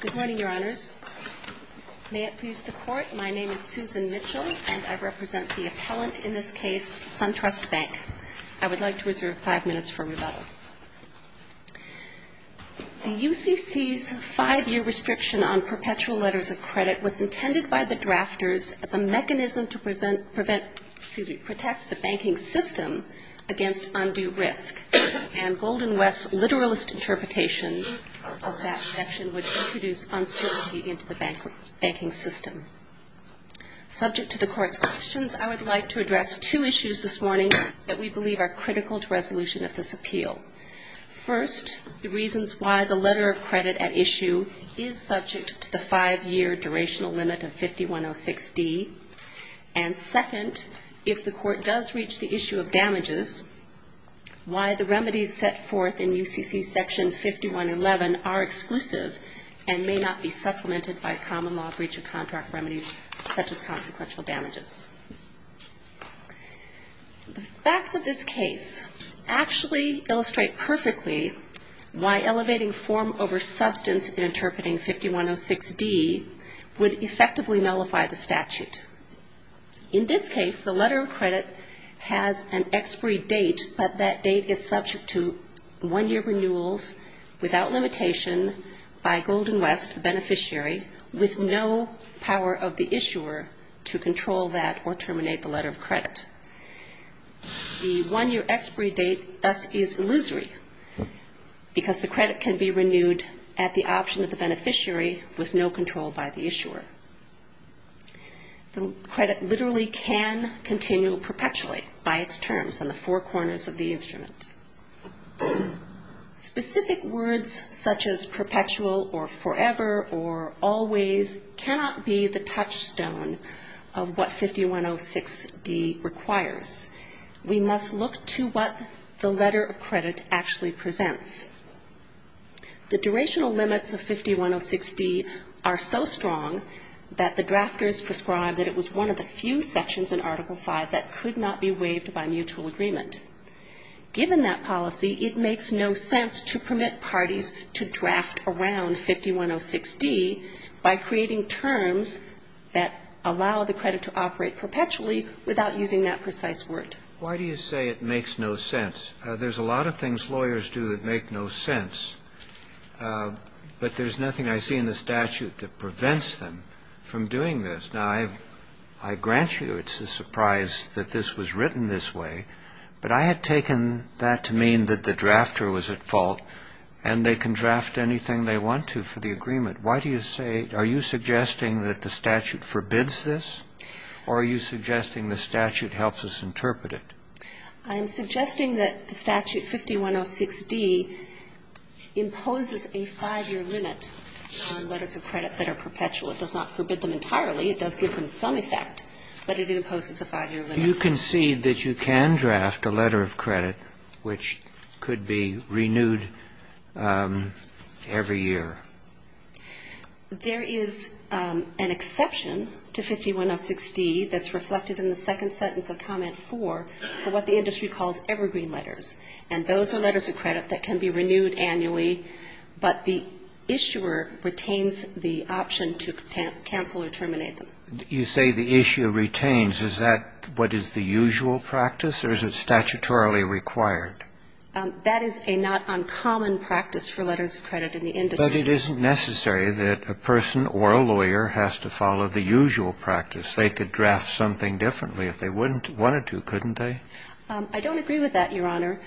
Good morning, Your Honors. May it please the Court, my name is Susan Mitchell and I represent the appellant in this case, Suntrust Bank. I would like to reserve five minutes for rebuttal. The UCC's five-year restriction on perpetual letters of credit was intended by the drafters as a mechanism to protect the banking system against undue risk. And Golden West's literalist interpretation of that section would introduce uncertainty into the banking system. Subject to the Court's questions, I would like to address two issues this morning that we believe are critical to resolution of this appeal. First, the reasons why the letter of credit at issue is subject to the five-year durational limit of 5106d. And second, if the Court does reach the issue of damages, why the remedies set forth in UCC Section 5111 are exclusive and may not be supplemented by common law breach of contract remedies such as consequential damages. The facts of this case actually illustrate perfectly why elevating form over substance in interpreting 5106d would effectively nullify the statute. In this case, the letter of credit has an expiry date, but that date is subject to one-year renewals without limitation by Golden West, the beneficiary, with no power of the issuer to control that or terminate the letter of credit. The one-year expiry date thus is illusory because the credit can be renewed at the option of the beneficiary with no control by the issuer. The credit literally can continue perpetually by its terms on the four corners of the instrument. Specific words such as perpetual or forever or always cannot be the touchstone of what 5106d requires. We must look to what the letter of credit actually presents. The durational limits of 5106d are so strong that the drafters prescribe that it was one of the few sections in Article V that could not be waived by mutual agreement. Given that policy, it makes no sense to permit parties to draft around 5106d by creating terms that allow the credit to operate perpetually without using that precise word. Why do you say it makes no sense? There's a lot of things lawyers do that make no sense, but there's nothing I see in the statute that prevents them from doing this. Now, I grant you it's a surprise that this was written this way, but I had taken that to mean that the drafter was at fault and they can draft anything they want to for the agreement. Why do you say, are you suggesting that the statute forbids this or are you suggesting the statute helps us interpret it? I am suggesting that the statute 5106d imposes a five-year limit on letters of credit that are perpetual. It does not forbid them entirely. It does give them some effect, but it imposes a five-year limit. Do you concede that you can draft a letter of credit which could be renewed every year? There is an exception to 5106d that's reflected in the second sentence of comment 4 for what the industry calls evergreen letters. And those are letters of credit that can be renewed annually, but the issuer retains the option to cancel or terminate them. You say the issuer retains. Is that what is the usual practice or is it statutorily required? That is a not uncommon practice for letters of credit in the industry. But it isn't necessary that a person or a lawyer has to follow the usual practice. They could draft something differently if they wanted to, couldn't they? I don't agree with that, Your Honor.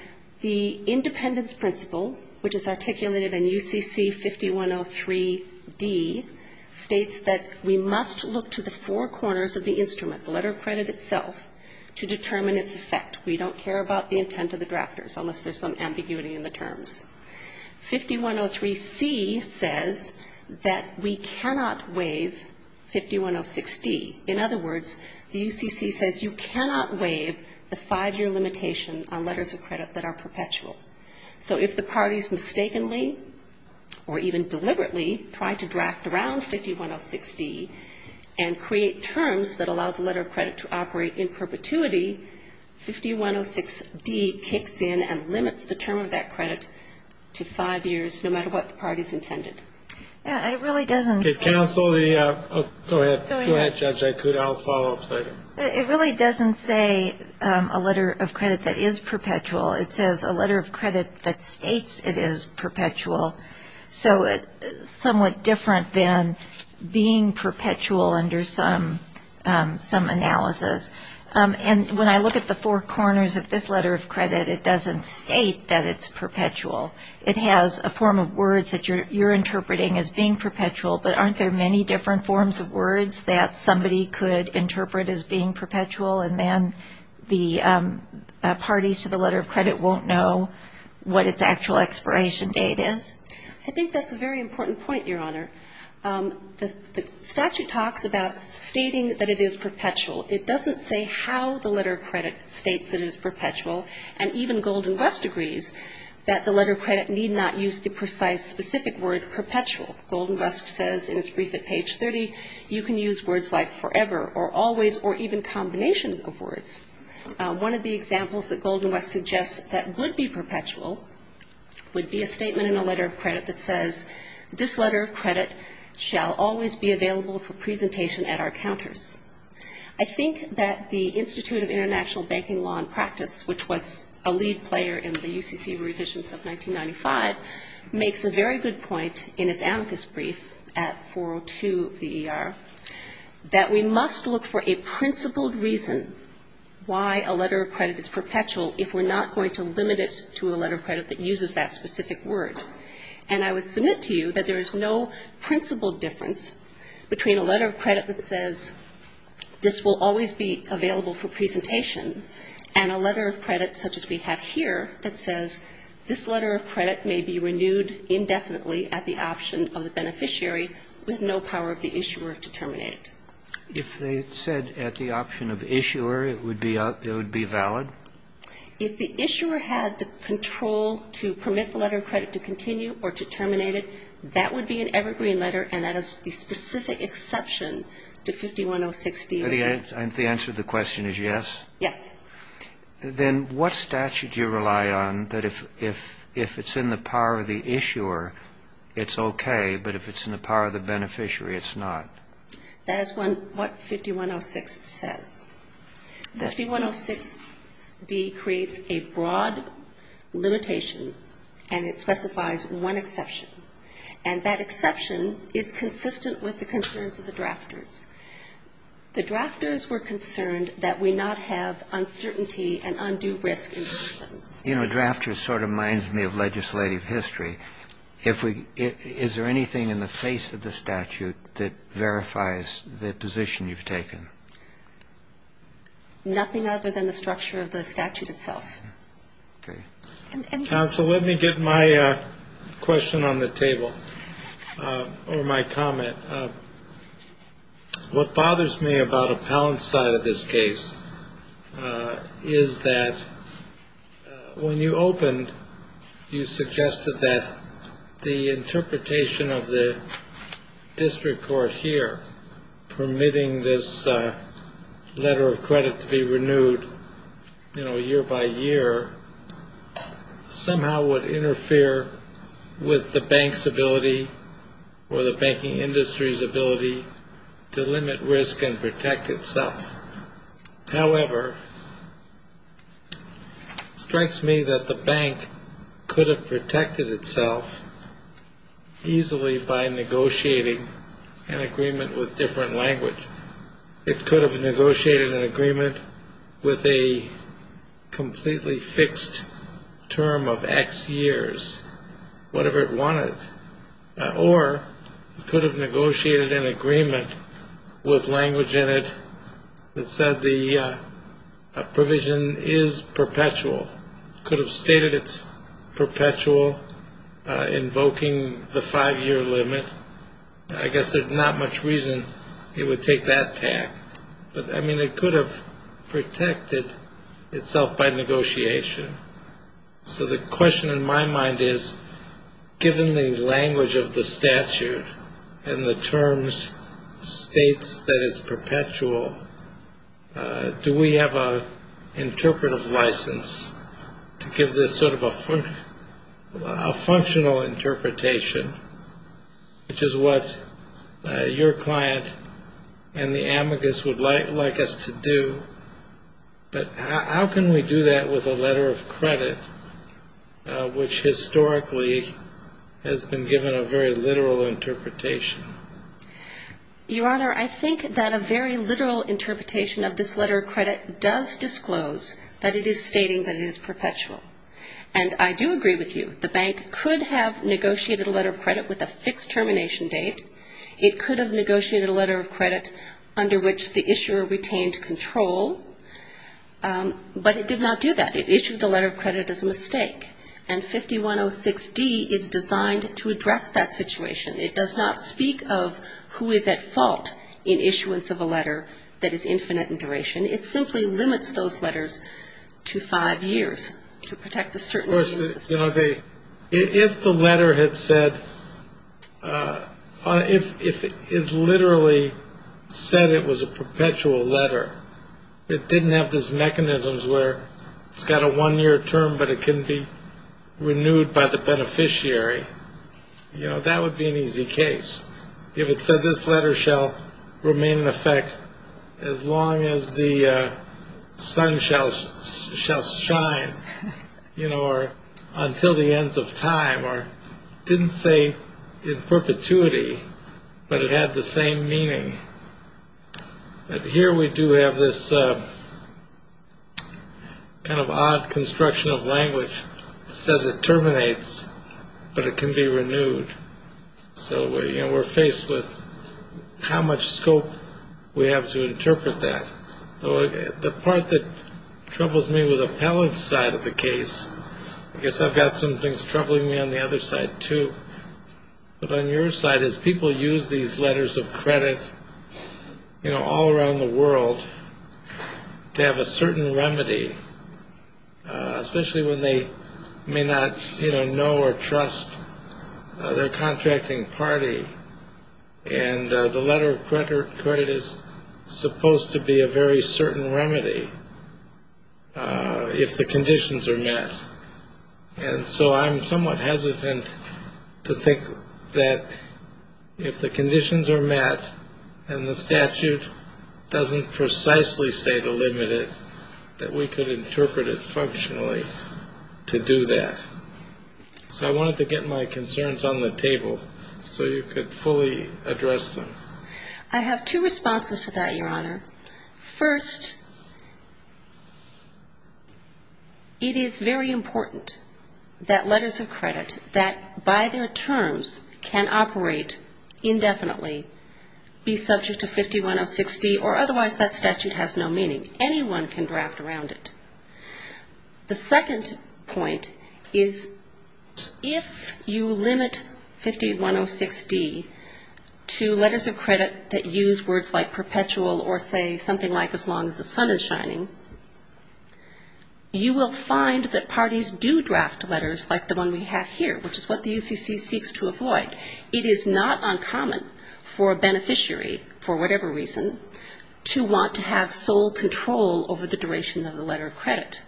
The Independence Principle, which is articulated in UCC 5103d, states that we must look to the four corners of the instrument, the letter of credit itself, to determine its effect. We don't care about the intent of the drafters unless there's some ambiguity in the terms. 5103c says that we cannot waive 5106d. In other words, the UCC says you cannot waive the five-year limitation on letters of credit that are perpetual. So if the parties mistakenly or even deliberately try to draft around 5106d and create terms that allow the letter of credit to operate in perpetuity, 5106d kicks in and limits the term of that credit to five years, no matter what the party's intended. It really doesn't say a letter of credit that is perpetual. It says a letter of credit that states it is perpetual. So it's somewhat different than being perpetual under some analysis. And when I look at the four corners of this letter of credit, it doesn't state that it's perpetual. It has a form of words that you're interpreting as being perpetual, but aren't there many different forms of words that somebody could interpret as being perpetual, and then the parties to the letter of credit won't know what its actual expiration date is? I think that's a very important point, Your Honor. The statute talks about stating that it is perpetual. It doesn't say how the letter of credit states that it is perpetual. And even Golden West agrees that the letter of credit need not use the precise, specific word perpetual. Golden West says in its brief at page 30, you can use words like forever or always or even combination of words. One of the examples that Golden West suggests that would be perpetual would be a statement in a letter of credit that says, this letter of credit shall always be available for presentation at our counters. I think that the Institute of International Banking Law and Practice, which was a lead player in the UCC revisions of 1995, makes a very good point in its amicus brief at 402 of the ER, that we must look for a principled reason why a letter of credit is perpetual if we're not going to limit it to a letter of credit that uses that specific word. And I would argue to you that there is no principled difference between a letter of credit that says this will always be available for presentation and a letter of credit such as we have here that says this letter of credit may be renewed indefinitely at the option of the beneficiary with no power of the issuer to terminate it. If they said at the option of issuer, it would be valid? If the issuer had the control to permit the letter of credit to continue or to terminate it, that would be an evergreen letter, and that is the specific exception to 5106 DER. And the answer to the question is yes? Yes. Then what statute do you rely on that if it's in the power of the issuer, it's okay, but if it's in the power of the beneficiary, it's not? That is what 5106 says. 5106 D creates a broad limitation, and it specifies one exception. And that exception is consistent with the concerns of the drafters. The drafters were concerned that we not have uncertainty and undue risk in the system. You know, drafters sort of reminds me of legislative history. Is there anything in the face of the statute that verifies the position you've taken? Nothing other than the structure of the statute itself. Okay. Counsel, let me get my question on the table or my comment. What bothers me about Appellant's side of this case is that when you opened, you suggested that the interpretation of the district court here, permitting this letter of credit to be renewed, you know, year by year, somehow would interfere with the bank's ability or the banking industry's ability to limit risk and protect itself. However, it strikes me that the bank could have protected itself easily by negotiating an agreement with different language. It could have negotiated an agreement with a completely fixed term of X years, whatever it wanted. Or it could have negotiated an agreement with language in it that said the provision is perpetual. It could have stated it's perpetual, invoking the five-year limit. I guess there's not much reason it would take that tack. But, I mean, it could have protected itself by negotiation. So the question in my mind is, given the language of the statute and the terms states that it's perpetual, do we have an interpretive license to give this sort of a functional interpretation, which is what your client and the amicus would like us to do? But how can we do that with a letter of credit, which historically has been given a very literal interpretation? Your Honor, I think that a very literal interpretation of this letter of credit does disclose that it is stating that it is perpetual. And I do agree with you. The bank could have negotiated a letter of credit with a fixed termination date. It could have negotiated a letter of credit under which the issuer retained control. But it did not do that. It issued the letter of credit as a mistake. And 5106D is designed to address that situation. It does not speak of who is at fault in issuance of a letter that is infinite in duration. It simply limits those letters to five years to protect a certain legal system. Of course, you know, if the letter had said, if it literally said it was a perpetual letter, it didn't have those mechanisms where it's got a one-year term, but it can be renewed by the beneficiary, you know, that would be an easy case. If it said this letter shall remain in effect as long as the sun shall shall shine, you know, or until the ends of time or didn't say in perpetuity, but it had the same meaning. But here we do have this kind of odd construction of language. It says it terminates, but it can be renewed. So, you know, we're faced with how much scope we have to interpret that. The part that troubles me with the appellant's side of the case, I guess I've got some things troubling me on the other side, too. But on your side, as people use these letters of credit, you know, all around the world, they have a certain remedy, especially when they may not know or trust their contracting party. And the letter of credit is supposed to be a very certain remedy if the conditions are met. And so I'm somewhat hesitant to think that if the conditions are met and the statute doesn't precisely say to limit it, that we could interpret it functionally to do that. So I wanted to get my concerns on the table so you could fully address them. I have two responses to that, Your Honor. First, it is very important that letters of credit that by their terms can operate indefinitely be subject to 5106D or otherwise that statute has no meaning. Anyone can draft around it. The second point is if you limit 5106D to letters of credit that use words like perpetual or say something like as long as the sun is shining, you will find that parties do draft letters like the one we have here, which is what the UCC seeks to avoid. It is not uncommon for a beneficiary, for whatever reason, to want to have sole control over the duration of the letter of credit.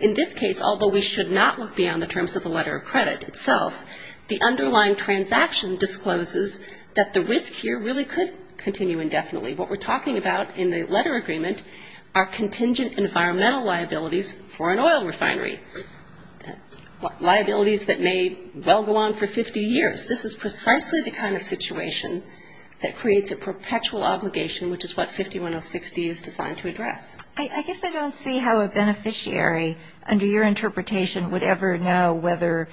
In this case, although we should not look beyond the terms of the letter of credit itself, the underlying transaction discloses that the risk here really could continue indefinitely. What we're talking about in the letter agreement are contingent environmental liabilities for an oil refinery, liabilities that may well go on for 50 years. This is precisely the kind of situation that creates a perpetual obligation, which is what 5106D is designed to address. I guess I don't see how a beneficiary, under your interpretation, would ever know whether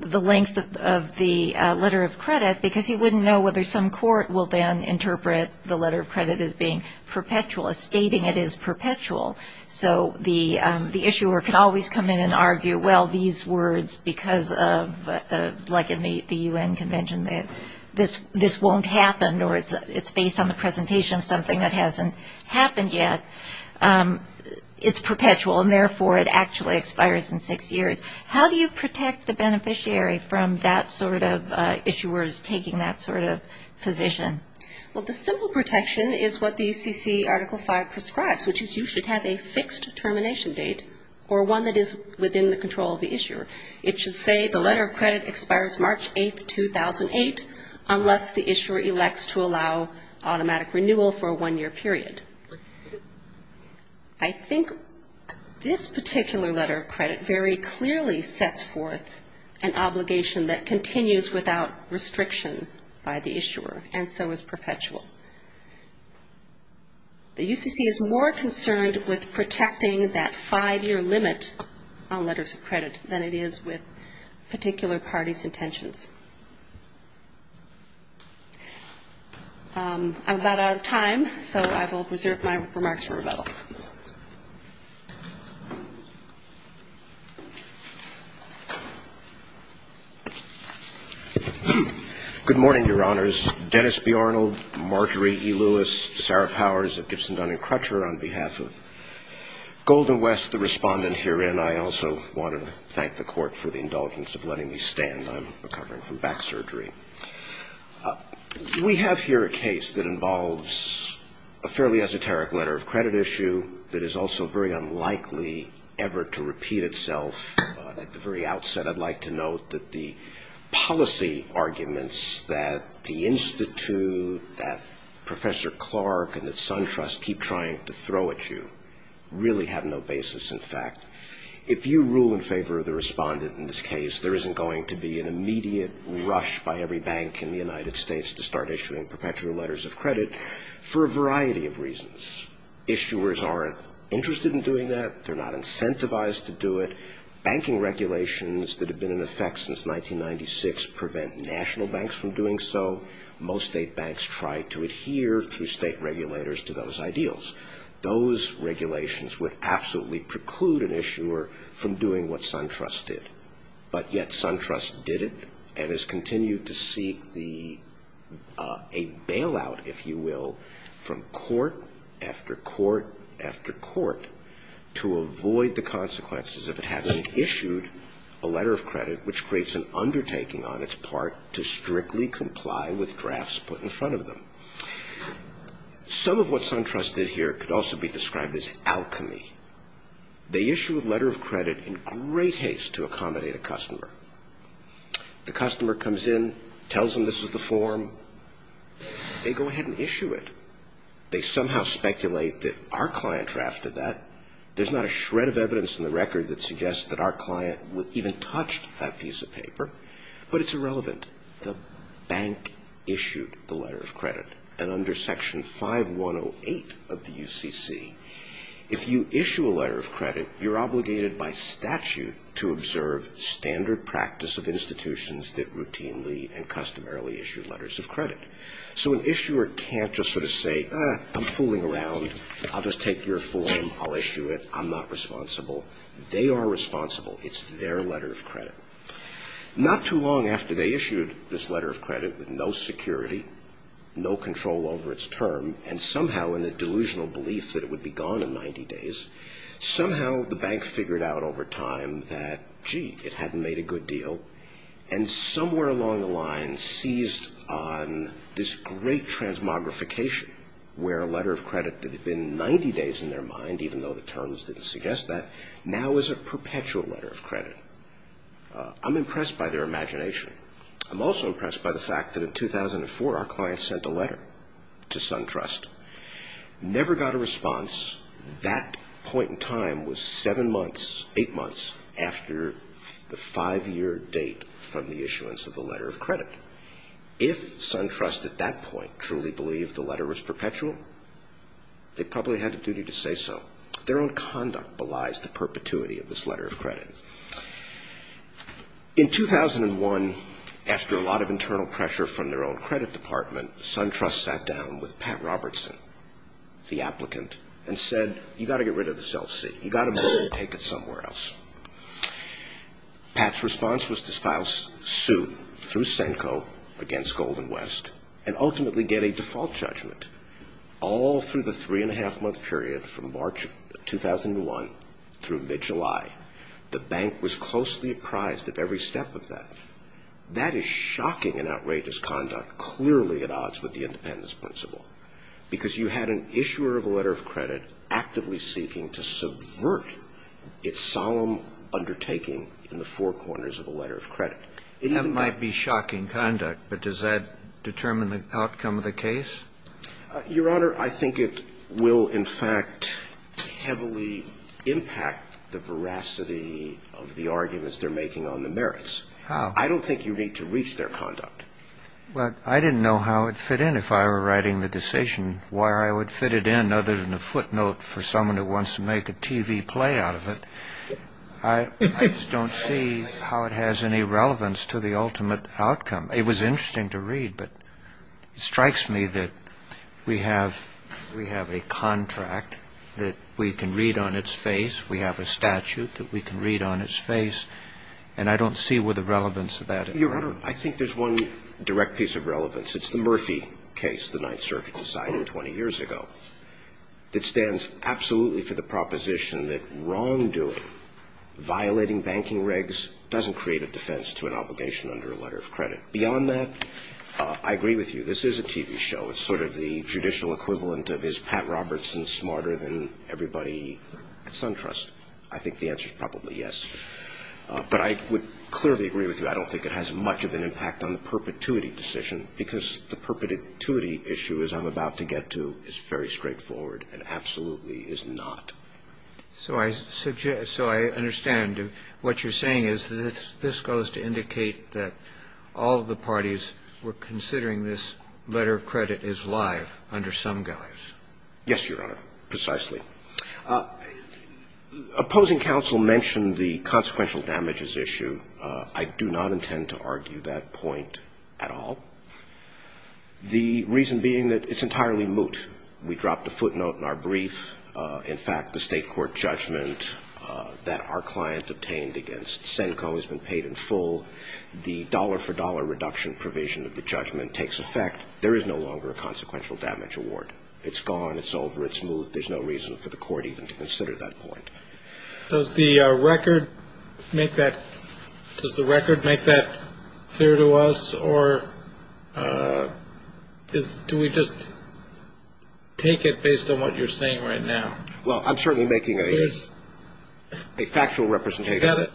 the length of the letter of credit, because he wouldn't know whether some court will then interpret the letter of credit as being perpetual, as stating it is perpetual. So the issuer can always come in and argue, well, these words, because of, like in the U.N. Convention, this won't happen or it's based on the presentation of something that hasn't happened yet, it's perpetual, and therefore it actually expires in six years. How do you protect the beneficiary from that sort of issuers taking that sort of position? Well, the simple protection is what the UCC Article V prescribes, which is you should have a fixed termination date or one that is within the control of the issuer. It should say the letter of credit expires March 8, 2008, unless the issuer elects to allow automatic renewal for a one-year period. I think this particular letter of credit very clearly sets forth an obligation that continues without restriction by the issuer. And so is perpetual. The UCC is more concerned with protecting that five-year limit on letters of credit than it is with particular parties' intentions. I'm about out of time, so I will reserve my remarks for rebuttal. Good morning, Your Honors. Dennis B. Arnold, Marjorie E. Lewis, Sarah Powers of Gibson, Dunn & Crutcher. On behalf of Golden West, the Respondent herein, I also want to thank the Court for the indulgence of letting me stand. I'm recovering from back surgery. We have here a case that involves a fairly esoteric letter of credit issue that is also very unlikely ever to repeat itself. At the very outset, I'd like to note that the policy arguments that the Institute, that Professor Clark, and that SunTrust keep trying to throw at you really have no basis in fact. If you rule in favor of the Respondent in this case, there isn't going to be an immediate rush by every bank in the United States to start issuing perpetual letters of credit for a variety of reasons. Issuers aren't interested in doing that. They're not incentivized to do it. Banking regulations that have been in effect since 1996 prevent national banks from doing so. Most state banks try to adhere through state regulators to those ideals. Those regulations would absolutely preclude an issuer from doing what SunTrust did. But yet SunTrust did it and has continued to seek a bailout, if you will, from court after court after court to avoid the consequences of it having issued a letter of credit, which creates an undertaking on its part to strictly comply with drafts put in front of them. Some of what SunTrust did here could also be described as alchemy. They issue a letter of credit in great haste to accommodate a customer. The customer comes in, tells them this is the form. They go ahead and issue it. They somehow speculate that our client drafted that. There's not a shred of evidence in the record that suggests that our client even touched that piece of paper, but it's irrelevant. The bank issued the letter of credit, and under Section 5108 of the UCC, if you issue a letter of credit, you're obligated by statute to observe standard practice of institutions that routinely and customarily issue letters of credit. So an issuer can't just sort of say, I'm fooling around. I'll just take your form. I'll issue it. I'm not responsible. They are responsible. It's their letter of credit. Not too long after they issued this letter of credit with no security, no control over its term, and somehow in a delusional belief that it would be gone in 90 days, somehow the bank figured out over time that, gee, it hadn't made a good deal, and somewhere along the line seized on this great transmogrification where a letter of credit that had been 90 days in their mind, even though the terms didn't suggest that, now is a perpetual letter of credit. I'm impressed by their imagination. I'm also impressed by the fact that in 2004 our client sent a letter to SunTrust. Never got a response. That point in time was seven months, eight months after the five-year date from the issuance of the letter of credit. If SunTrust at that point truly believed the letter was perpetual, they probably had a duty to say so. Their own conduct belies the perpetuity of this letter of credit. In 2001, after a lot of internal pressure from their own credit department, SunTrust sat down with Pat Robertson, the applicant, and said, you've got to get rid of this LC. You've got to move it and take it somewhere else. Pat's response was to file suit through SENCO against Golden West and ultimately get a default judgment all through the three-and-a-half-month period from March of 2001 through mid-July The bank was closely apprised of every step of that. That is shocking and outrageous conduct, clearly at odds with the independence principle, because you had an issuer of a letter of credit actively seeking to subvert its solemn undertaking in the four corners of a letter of credit. That might be shocking conduct, but does that determine the outcome of the case? Your Honor, I think it will, in fact, heavily impact the veracity of the arguments they're making on the merits. How? I don't think you need to reach their conduct. Well, I didn't know how it fit in if I were writing the decision, why I would fit it in other than a footnote for someone who wants to make a TV play out of it. I just don't see how it has any relevance to the ultimate outcome. It was interesting to read, but it strikes me that we have a contract that we can read on its face. We have a statute that we can read on its face, and I don't see where the relevance of that is. Your Honor, I think there's one direct piece of relevance. It's the Murphy case the Ninth Circuit decided 20 years ago that stands absolutely for the proposition that wrongdoing, violating banking regs, doesn't create a defense to an obligation under a letter of credit. Beyond that, I agree with you. This is a TV show. It's sort of the judicial equivalent of is Pat Robertson smarter than everybody at SunTrust. I think the answer is probably yes. But I would clearly agree with you. I don't think it has much of an impact on the perpetuity decision, because the perpetuity issue, as I'm about to get to, is very straightforward and absolutely is not. So I suggest so I understand. What you're saying is that this goes to indicate that all of the parties were considering this letter of credit as live under some guise. Yes, Your Honor, precisely. Opposing counsel mentioned the consequential damages issue. I do not intend to argue that point at all. The reason being that it's entirely moot. We dropped a footnote in our brief. In fact, the state court judgment that our client obtained against CENCO has been paid in full. The dollar-for-dollar reduction provision of the judgment takes effect. There is no longer a consequential damage award. It's gone. It's over. It's moot. There's no reason for the court even to consider that point. Does the record make that clear to us, or do we just take it based on what you're saying right now? Well, I'm certainly making a factual representation.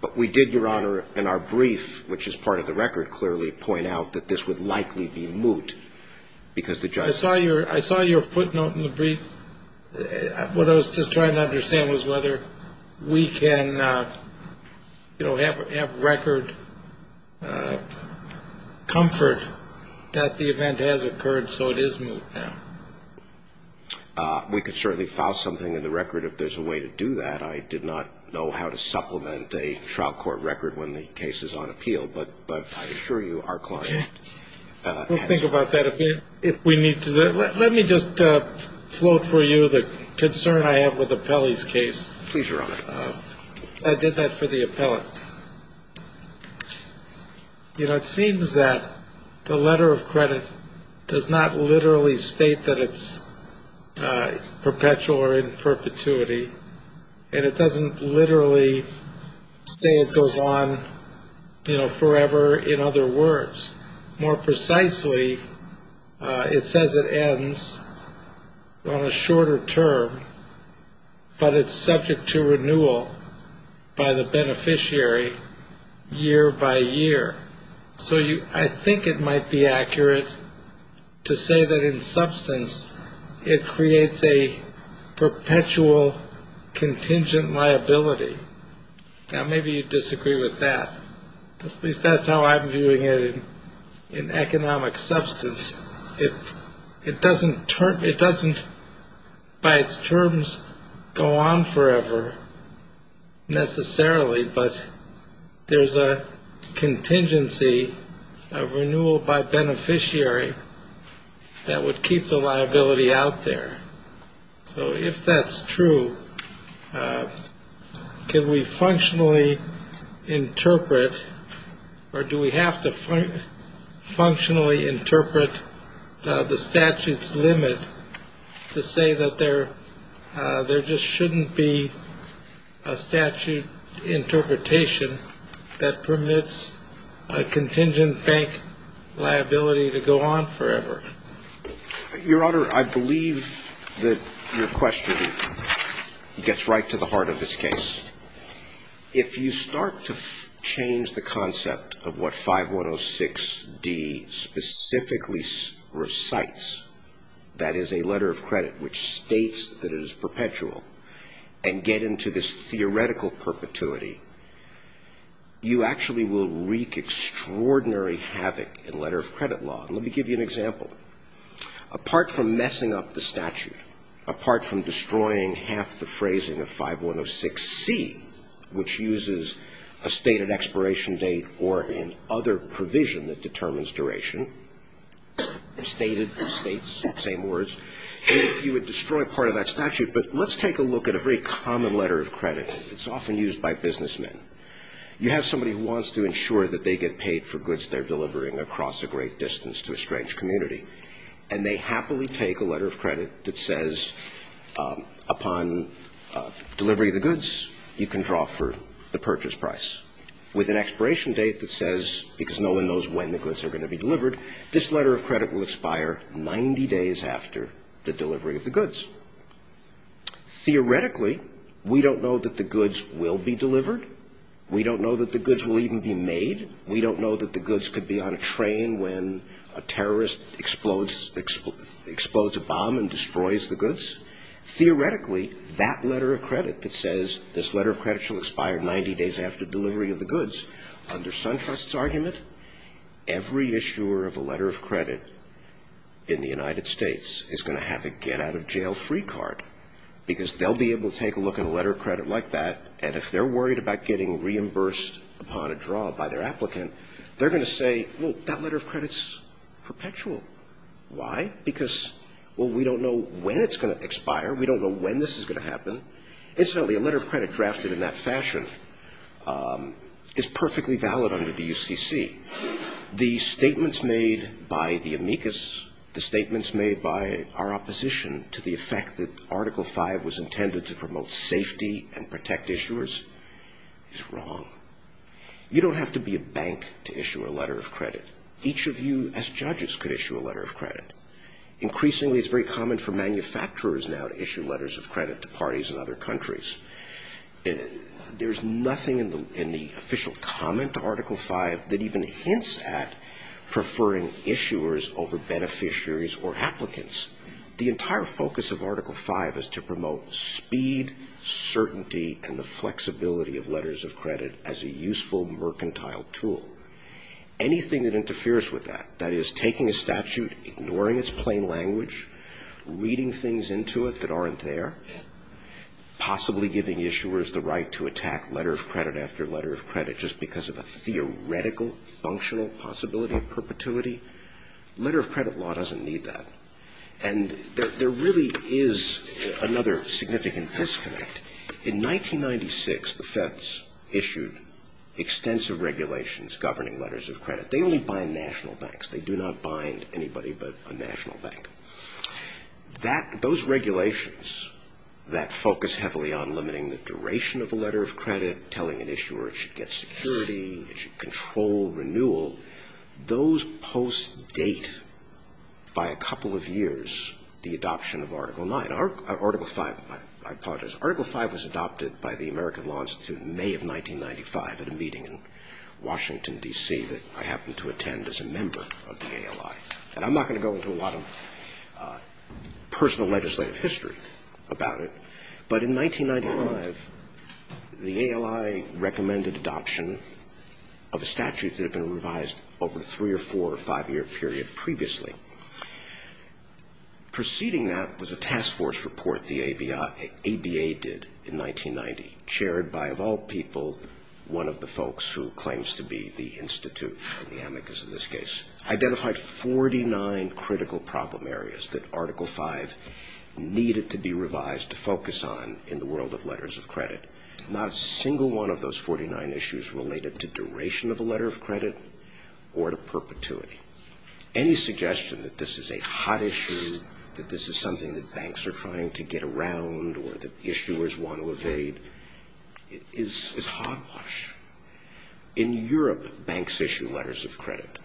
But we did, Your Honor, in our brief, which is part of the record, clearly point out that this would likely be moot because the judgment I saw your footnote in the brief. What I was just trying to understand was whether we can, you know, have record comfort that the event has occurred, so it is moot now. We could certainly file something in the record if there's a way to do that. I did not know how to supplement a trial court record when the case is on appeal. But I assure you our client has. We'll think about that if we need to. Let me just float for you the concern I have with Apelli's case. Please, Your Honor. I did that for the appellant. You know, it seems that the letter of credit does not literally state that it's perpetual or in perpetuity. And it doesn't literally say it goes on forever, in other words. More precisely, it says it ends on a shorter term, but it's subject to renewal by the beneficiary year by year. So I think it might be accurate to say that in substance it creates a perpetual contingent liability. Now, maybe you disagree with that. At least that's how I'm viewing it in economic substance. It doesn't it doesn't by its terms go on forever necessarily. But there's a contingency of renewal by beneficiary that would keep the liability out there. So if that's true, can we functionally interpret or do we have to functionally interpret the statute's limit to say that there just shouldn't be a statute interpretation that permits a contingent bank liability to go on forever? Your Honor, I believe that your question gets right to the heart of this case. If you start to change the concept of what 5106d specifically recites, that is a letter of credit which states that it is perpetual, and get into this theoretical perpetuity, you actually will wreak extraordinary havoc in letter of credit law. Let me give you an example. Apart from messing up the statute, apart from destroying half the phrasing of 5106c, which uses a stated expiration date or an other provision that determines duration, stated, states, same words, you would destroy part of that statute. But let's take a look at a very common letter of credit. It's often used by businessmen. You have somebody who wants to ensure that they get paid for goods they're delivering across a great distance to a strange community. And they happily take a letter of credit that says, upon delivery of the goods, you can draw for the purchase price. With an expiration date that says, because no one knows when the goods are going to be delivered, this letter of credit will expire 90 days after the delivery of the goods. Theoretically, we don't know that the goods will be delivered. We don't know that the goods will even be made. We don't know that the goods could be on a train when a terrorist explodes a bomb and destroys the goods. Theoretically, that letter of credit that says, this letter of credit shall expire 90 days after delivery of the goods, under Suntrust's argument, every issuer of a letter of credit in the United States is going to have a get-out-of-jail-free card. Because they'll be able to take a look at a letter of credit like that, and if they're worried about getting reimbursed upon a draw by their applicant, they're going to say, well, that letter of credit's perpetual. Why? Because, well, we don't know when it's going to expire. We don't know when this is going to happen. Incidentally, a letter of credit drafted in that fashion is perfectly valid under the UCC. The statements made by the amicus, the statements made by our opposition to the effect that Article V was intended to promote safety and protect issuers, is wrong. You don't have to be a bank to issue a letter of credit. Each of you, as judges, could issue a letter of credit. Increasingly, it's very common for manufacturers now to issue letters of credit to parties in other countries. There's nothing in the official comment to Article V that even hints at preferring issuers over beneficiaries or applicants. The entire focus of Article V is to promote speed, certainty, and the flexibility of letters of credit as a useful mercantile tool. Anything that interferes with that, that is taking a statute, ignoring its plain language, reading things into it that aren't there, possibly giving issuers the right to attack letter of credit after letter of credit just because of a theoretical, functional possibility of perpetuity, letter of credit law doesn't need that. And there really is another significant disconnect. In 1996, the Feds issued extensive regulations governing letters of credit. They only bind national banks. They do not bind anybody but a national bank. Those regulations that focus heavily on limiting the duration of a letter of credit, telling an issuer it should get security, it should control renewal, those posts date, by a couple of years, the adoption of Article V. I apologize. Article V was adopted by the American Law Institute in May of 1995 at a meeting in Washington, D.C., that I happened to attend as a member of the ALI. And I'm not going to go into a lot of personal legislative history about it, but in 1995, the ALI recommended adoption of a statute that had been revised over a three- or four- or five-year period previously. Preceding that was a task force report the ABA did in 1990, chaired by, of all people, one of the folks who claims to be the institute, the amicus in this case, identified 49 critical problem areas that Article V needed to be revised to focus on in the world of letters of credit. Not a single one of those 49 issues related to duration of a letter of credit or to perpetuity. Any suggestion that this is a hot issue, that this is something that banks are trying to get around or that issuers want to evade is hot wash. In Europe, banks issue letters of credit.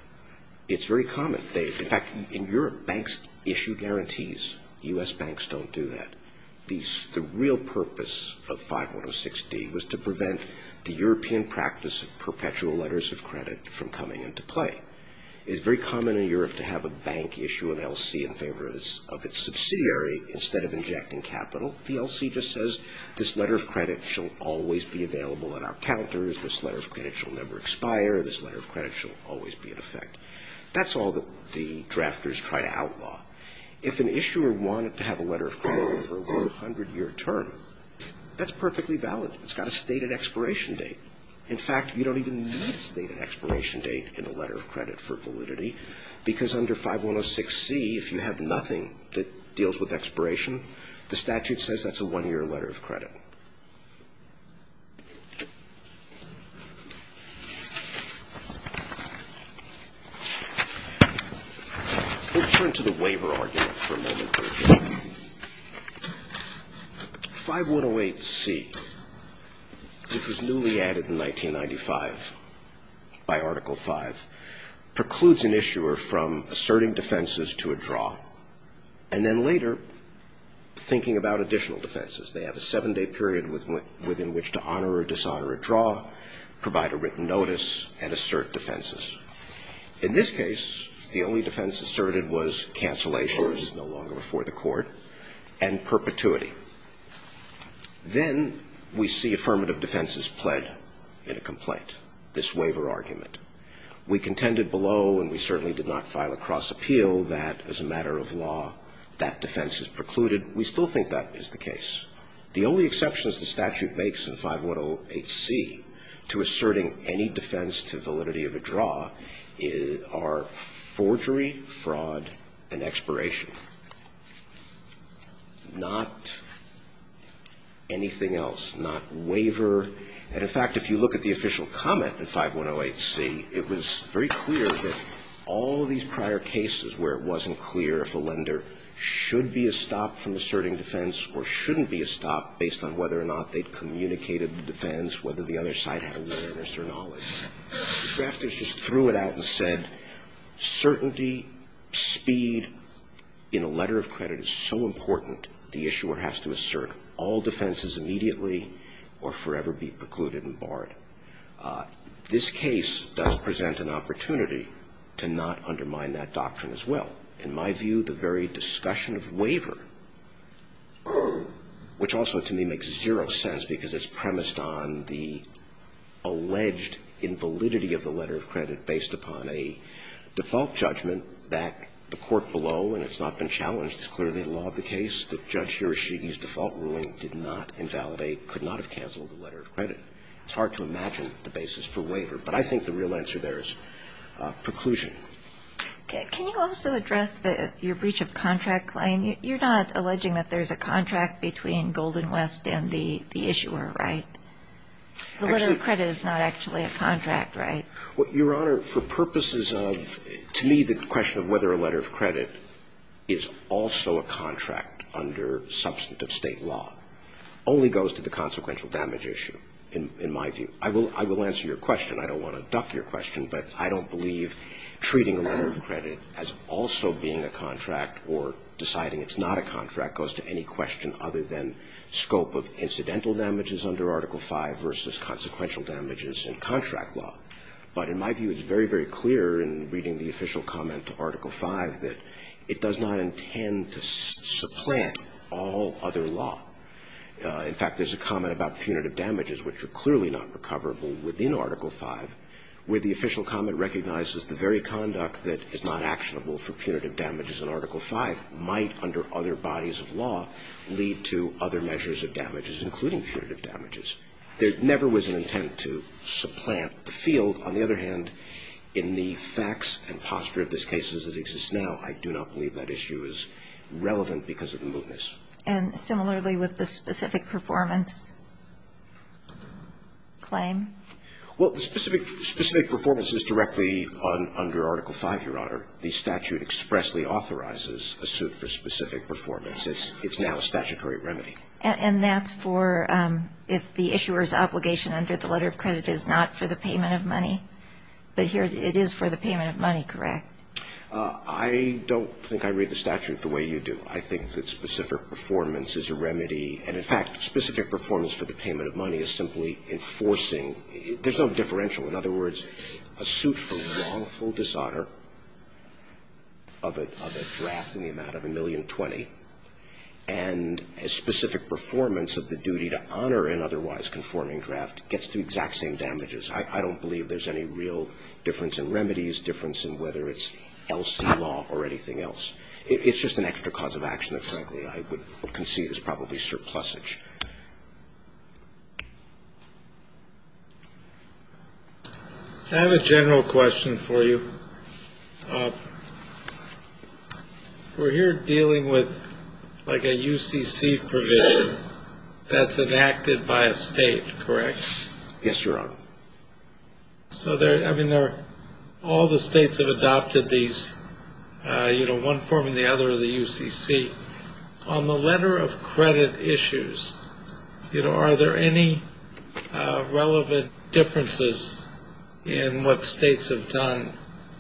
It's very common. In fact, in Europe, banks issue guarantees. U.S. banks don't do that. The real purpose of 5106D was to prevent the European practice of perpetual letters of credit from coming into play. It's very common in Europe to have a bank issue an L.C. in favor of its subsidiary instead of injecting capital. The L.C. just says this letter of credit shall always be available at our counters. This letter of credit shall never expire. This letter of credit shall always be in effect. That's all that the drafters try to outlaw. If an issuer wanted to have a letter of credit for a 100-year term, that's perfectly valid. It's got a stated expiration date. In fact, you don't even need a stated expiration date in a letter of credit for validity because under 5106C, if you have nothing that deals with expiration, the statute says that's a one-year letter of credit. Let's turn to the waiver argument for a moment. 5108C, which was newly added in 1995 by Article V, precludes an issuer from asserting defenses to a draw and then later thinking about additional defenses. They have a seven-day period within which to honor or dishonor a draw, provide a written notice, and assert defenses. In this case, the only defense asserted was cancellation, which is no longer before the Court, and perpetuity. Then we see affirmative defenses pled in a complaint, this waiver argument. We contended below, and we certainly did not file a cross appeal, that as a matter of law, that defense is precluded. We still think that is the case. The only exceptions the statute makes in 5108C to asserting any defense to validity of a draw are forgery, fraud, and expiration, not anything else, not waiver. And, in fact, if you look at the official comment in 5108C, it was very clear that all of these prior cases where it wasn't clear if a lender should be a stop from asserting defense or shouldn't be a stop based on whether or not they'd communicated the defense, whether the other side had awareness or knowledge, the drafters just threw it out and said, certainty, speed in a letter of credit is so important, the issuer has to assert all defenses immediately or forever be precluded and barred. This case does present an opportunity to not undermine that doctrine as well. In my view, the very discussion of waiver, which also to me makes zero sense because it's premised on the alleged invalidity of the letter of credit based upon a default judgment that the court below, and it's not been challenged, is clearly the law of the case, that Judge Hiroshige's default ruling did not invalidate, could not have canceled a letter of credit. It's hard to imagine the basis for waiver. But I think the real answer there is preclusion. Can you also address your breach of contract claim? You're not alleging that there's a contract between Golden West and the issuer, right? The letter of credit is not actually a contract, right? Your Honor, for purposes of to me the question of whether a letter of credit is also a contract under substantive State law only goes to the consequential damage issue in my view. I will answer your question. I don't want to duck your question. But I don't believe treating a letter of credit as also being a contract or deciding it's not a contract goes to any question other than scope of incidental damages under Article V versus consequential damages in contract law. But in my view, it's very, very clear in reading the official comment to Article V that it does not intend to supplant all other law. In fact, there's a comment about punitive damages, which are clearly not recoverable within Article V, where the official comment recognizes the very conduct that is not actionable for punitive damages in Article V might, under other bodies of law, lead to other measures of damages, including punitive damages. There never was an intent to supplant the field. On the other hand, in the facts and posture of this case as it exists now, I do not believe that issue is relevant because of the mootness. And similarly with the specific performance claim? Well, the specific performance is directly under Article V, Your Honor. The statute expressly authorizes a suit for specific performance. It's now a statutory remedy. And that's for if the issuer's obligation under the letter of credit is not for the payment of money, but here it is for the payment of money, correct? I don't think I read the statute the way you do. I think that specific performance is a remedy. And in fact, specific performance for the payment of money is simply enforcing – there's no differential. In other words, a suit for wrongful dishonor of a draft in the amount of $1,020,000 and a specific performance of the duty to honor an otherwise conforming draft gets the exact same damages. I don't believe there's any real difference in remedies, difference in whether it's LC law or anything else. It's just an extra cause of action that, frankly, I would concede is probably surplusage. I have a general question for you. We're here dealing with, like, a UCC provision that's enacted by a State, correct? Yes, Your Honor. So, I mean, all the States have adopted these, you know, one form or the other of the UCC. On the letter of credit issues, you know, are there any relevant differences in what States have done,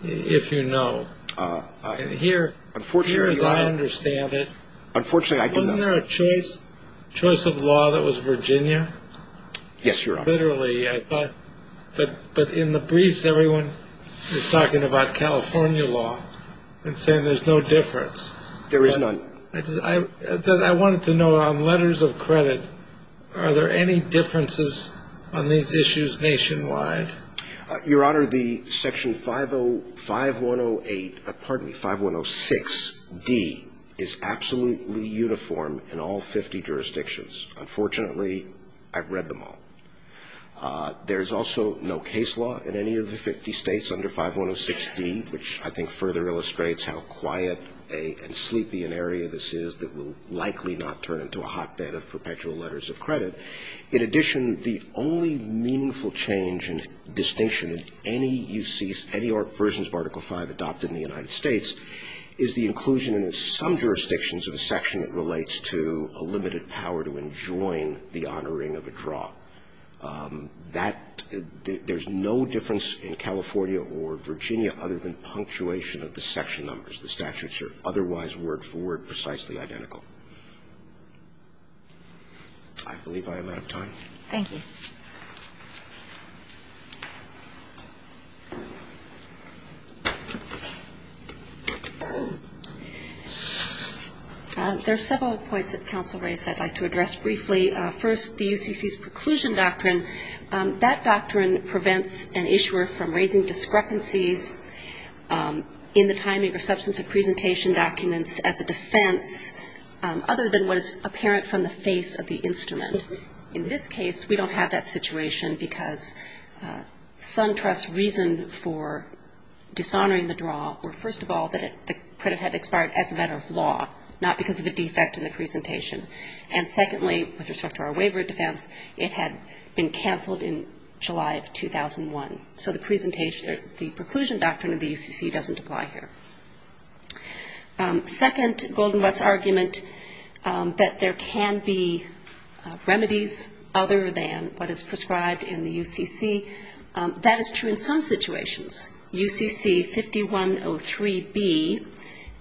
if you know? Here, as I understand it, wasn't there a choice of law that was Virginia? Yes, Your Honor. Literally, but in the briefs, everyone is talking about California law and saying there's no difference. There is none. I wanted to know, on letters of credit, are there any differences on these issues nationwide? Your Honor, the Section 505108, pardon me, 5106D is absolutely uniform in all 50 jurisdictions. Unfortunately, I've read them all. There's also no case law in any of the 50 States under 5106D, which I think further illustrates how quiet and sleepy an area this is that will likely not turn into a hotbed of perpetual letters of credit. In addition, the only meaningful change and distinction in any UCC, any versions of Article V adopted in the United States is the inclusion in some jurisdictions of a section that relates to a limited power to enjoin the honoring of a draw. That – there's no difference in California or Virginia other than punctuation of the section numbers. The statutes are otherwise word for word precisely identical. I believe I am out of time. Thank you. There are several points that counsel raised I'd like to address briefly. First, the UCC's preclusion doctrine, that doctrine prevents an issuer from raising discrepancies in the timing or substance of presentation documents as a defense other than what is apparent from the face of the instrument. In this case, we don't have that situation because SunTrust's reason for dishonoring the draw were, first of all, that the credit had expired as a matter of law, not because of a defect in the presentation. And secondly, with respect to our waiver of defense, it had been canceled in July of 2001. So the preclusion doctrine of the UCC doesn't apply here. Second, Goldenbus' argument that there can be remedies other than what is prescribed in the UCC, that is true in some situations. UCC 5103B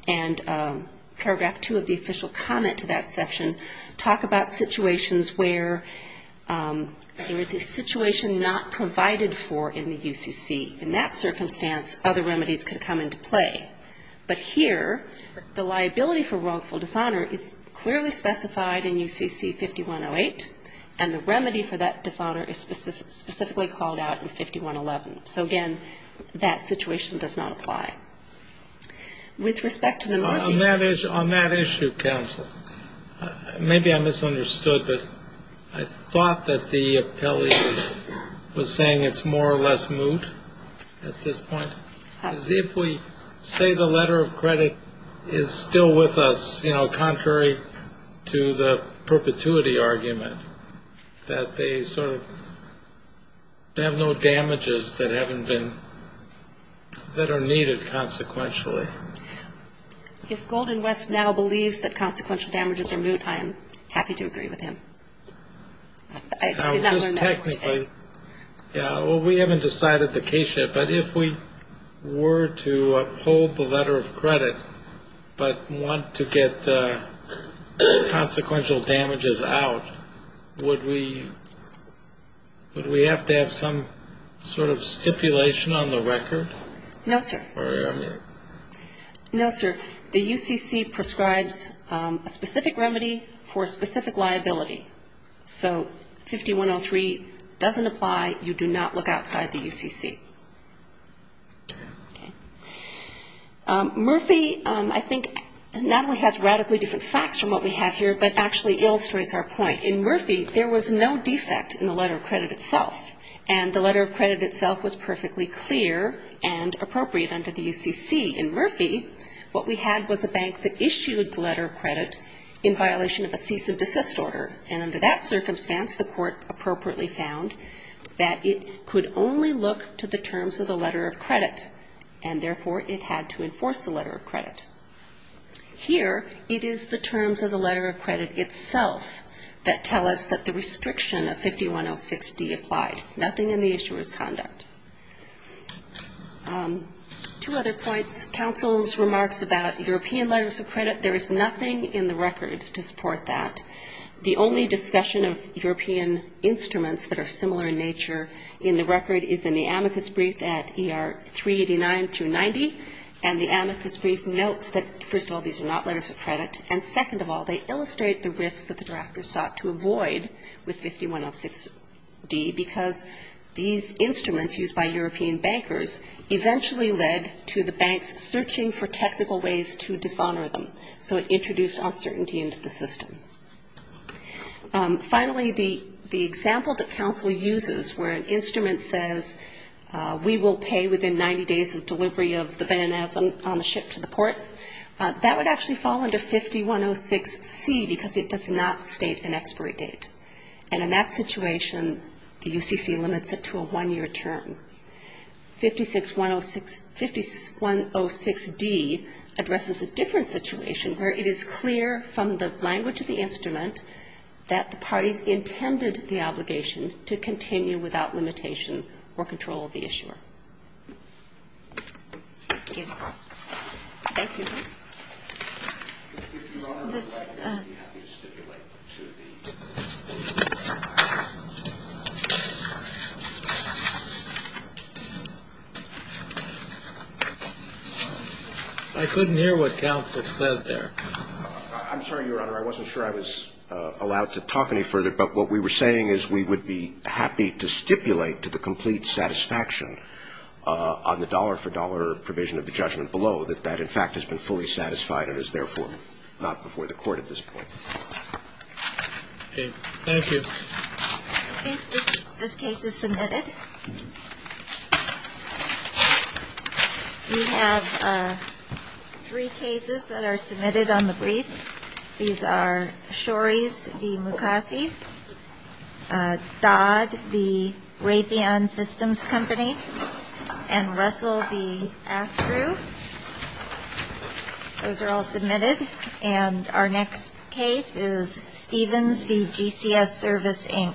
and paragraph 2 of the official comment to that section talk about situations where there is a situation not provided for in the UCC. In that circumstance, other remedies could come into play. But here, the liability for wrongful dishonor is clearly specified in UCC 5108, and the remedy for that dishonor is specifically called out in 5111. So, again, that situation does not apply. With respect to the Northeast. On that issue, counsel, maybe I misunderstood, but I thought that the appellee was saying it's more or less moot at this point, as if we say the letter of credit is still with us, you know, contrary to the perpetuity argument, that they sort of have no damages that haven't been, that are needed consequentially. If Goldenbus now believes that consequential damages are moot, I am happy to agree with him. I did not learn that from today. Well, we haven't decided the case yet, but if we were to uphold the letter of credit, but want to get consequential damages out, would we have to have some sort of stipulation on the record? No, sir. No, sir. The UCC prescribes a specific remedy for a specific liability. So 5103 doesn't apply. You do not look outside the UCC. Okay. Murphy, I think, not only has radically different facts from what we have here, but actually illustrates our point. In Murphy, there was no defect in the letter of credit itself, and the letter of credit itself was perfectly clear and appropriate under the UCC. In Murphy, what we had was a bank that issued the letter of credit in violation of a cease of desist order, and under that circumstance, the court appropriately found that it could only look to the terms of the letter of credit, and therefore, it had to enforce the letter of credit. Here, it is the terms of the letter of credit itself that tell us that the restriction of 5106D applied. Nothing in the issuer's conduct. Two other points. Counsel's remarks about European letters of credit, there is nothing in the record to support that. The only discussion of European instruments that are similar in nature in the record is in the amicus brief at ER 389-90, and the amicus brief notes that, first of all, these are not letters of credit, and second of all, they illustrate the risk that the drafters sought to avoid with 5106D, because these instruments used by European bankers eventually led to the banks searching for technical ways to dishonor them, so it introduced uncertainty into the system. Finally, the example that counsel uses where an instrument says we will pay within 90 days of delivery of the bananas on the ship to the port, that would actually fall under 5106C because it does not state an expiry date, and in that situation, the UCC limits it to a one-year term. 5106D addresses a different situation where it is clear from the language of the instrument that the parties intended the obligation to continue without limitation or control of the issuer. Thank you. I couldn't hear what counsel said there. I'm sorry, Your Honor, I wasn't sure I was allowed to talk any further, but what we were saying is we would be happy to stipulate to the complete satisfaction on the dollar-for-dollar provision of the judgment below that that, in fact, has been fully satisfied and is therefore not before the court at this point. Thank you. This case is submitted. We have three cases that are submitted on the briefs. These are Shorey's v. Mukasey, Dodd v. Raytheon Systems Company, and Russell v. Astru. Those are all submitted, and our next case is Stevens v. GCS Service, Inc.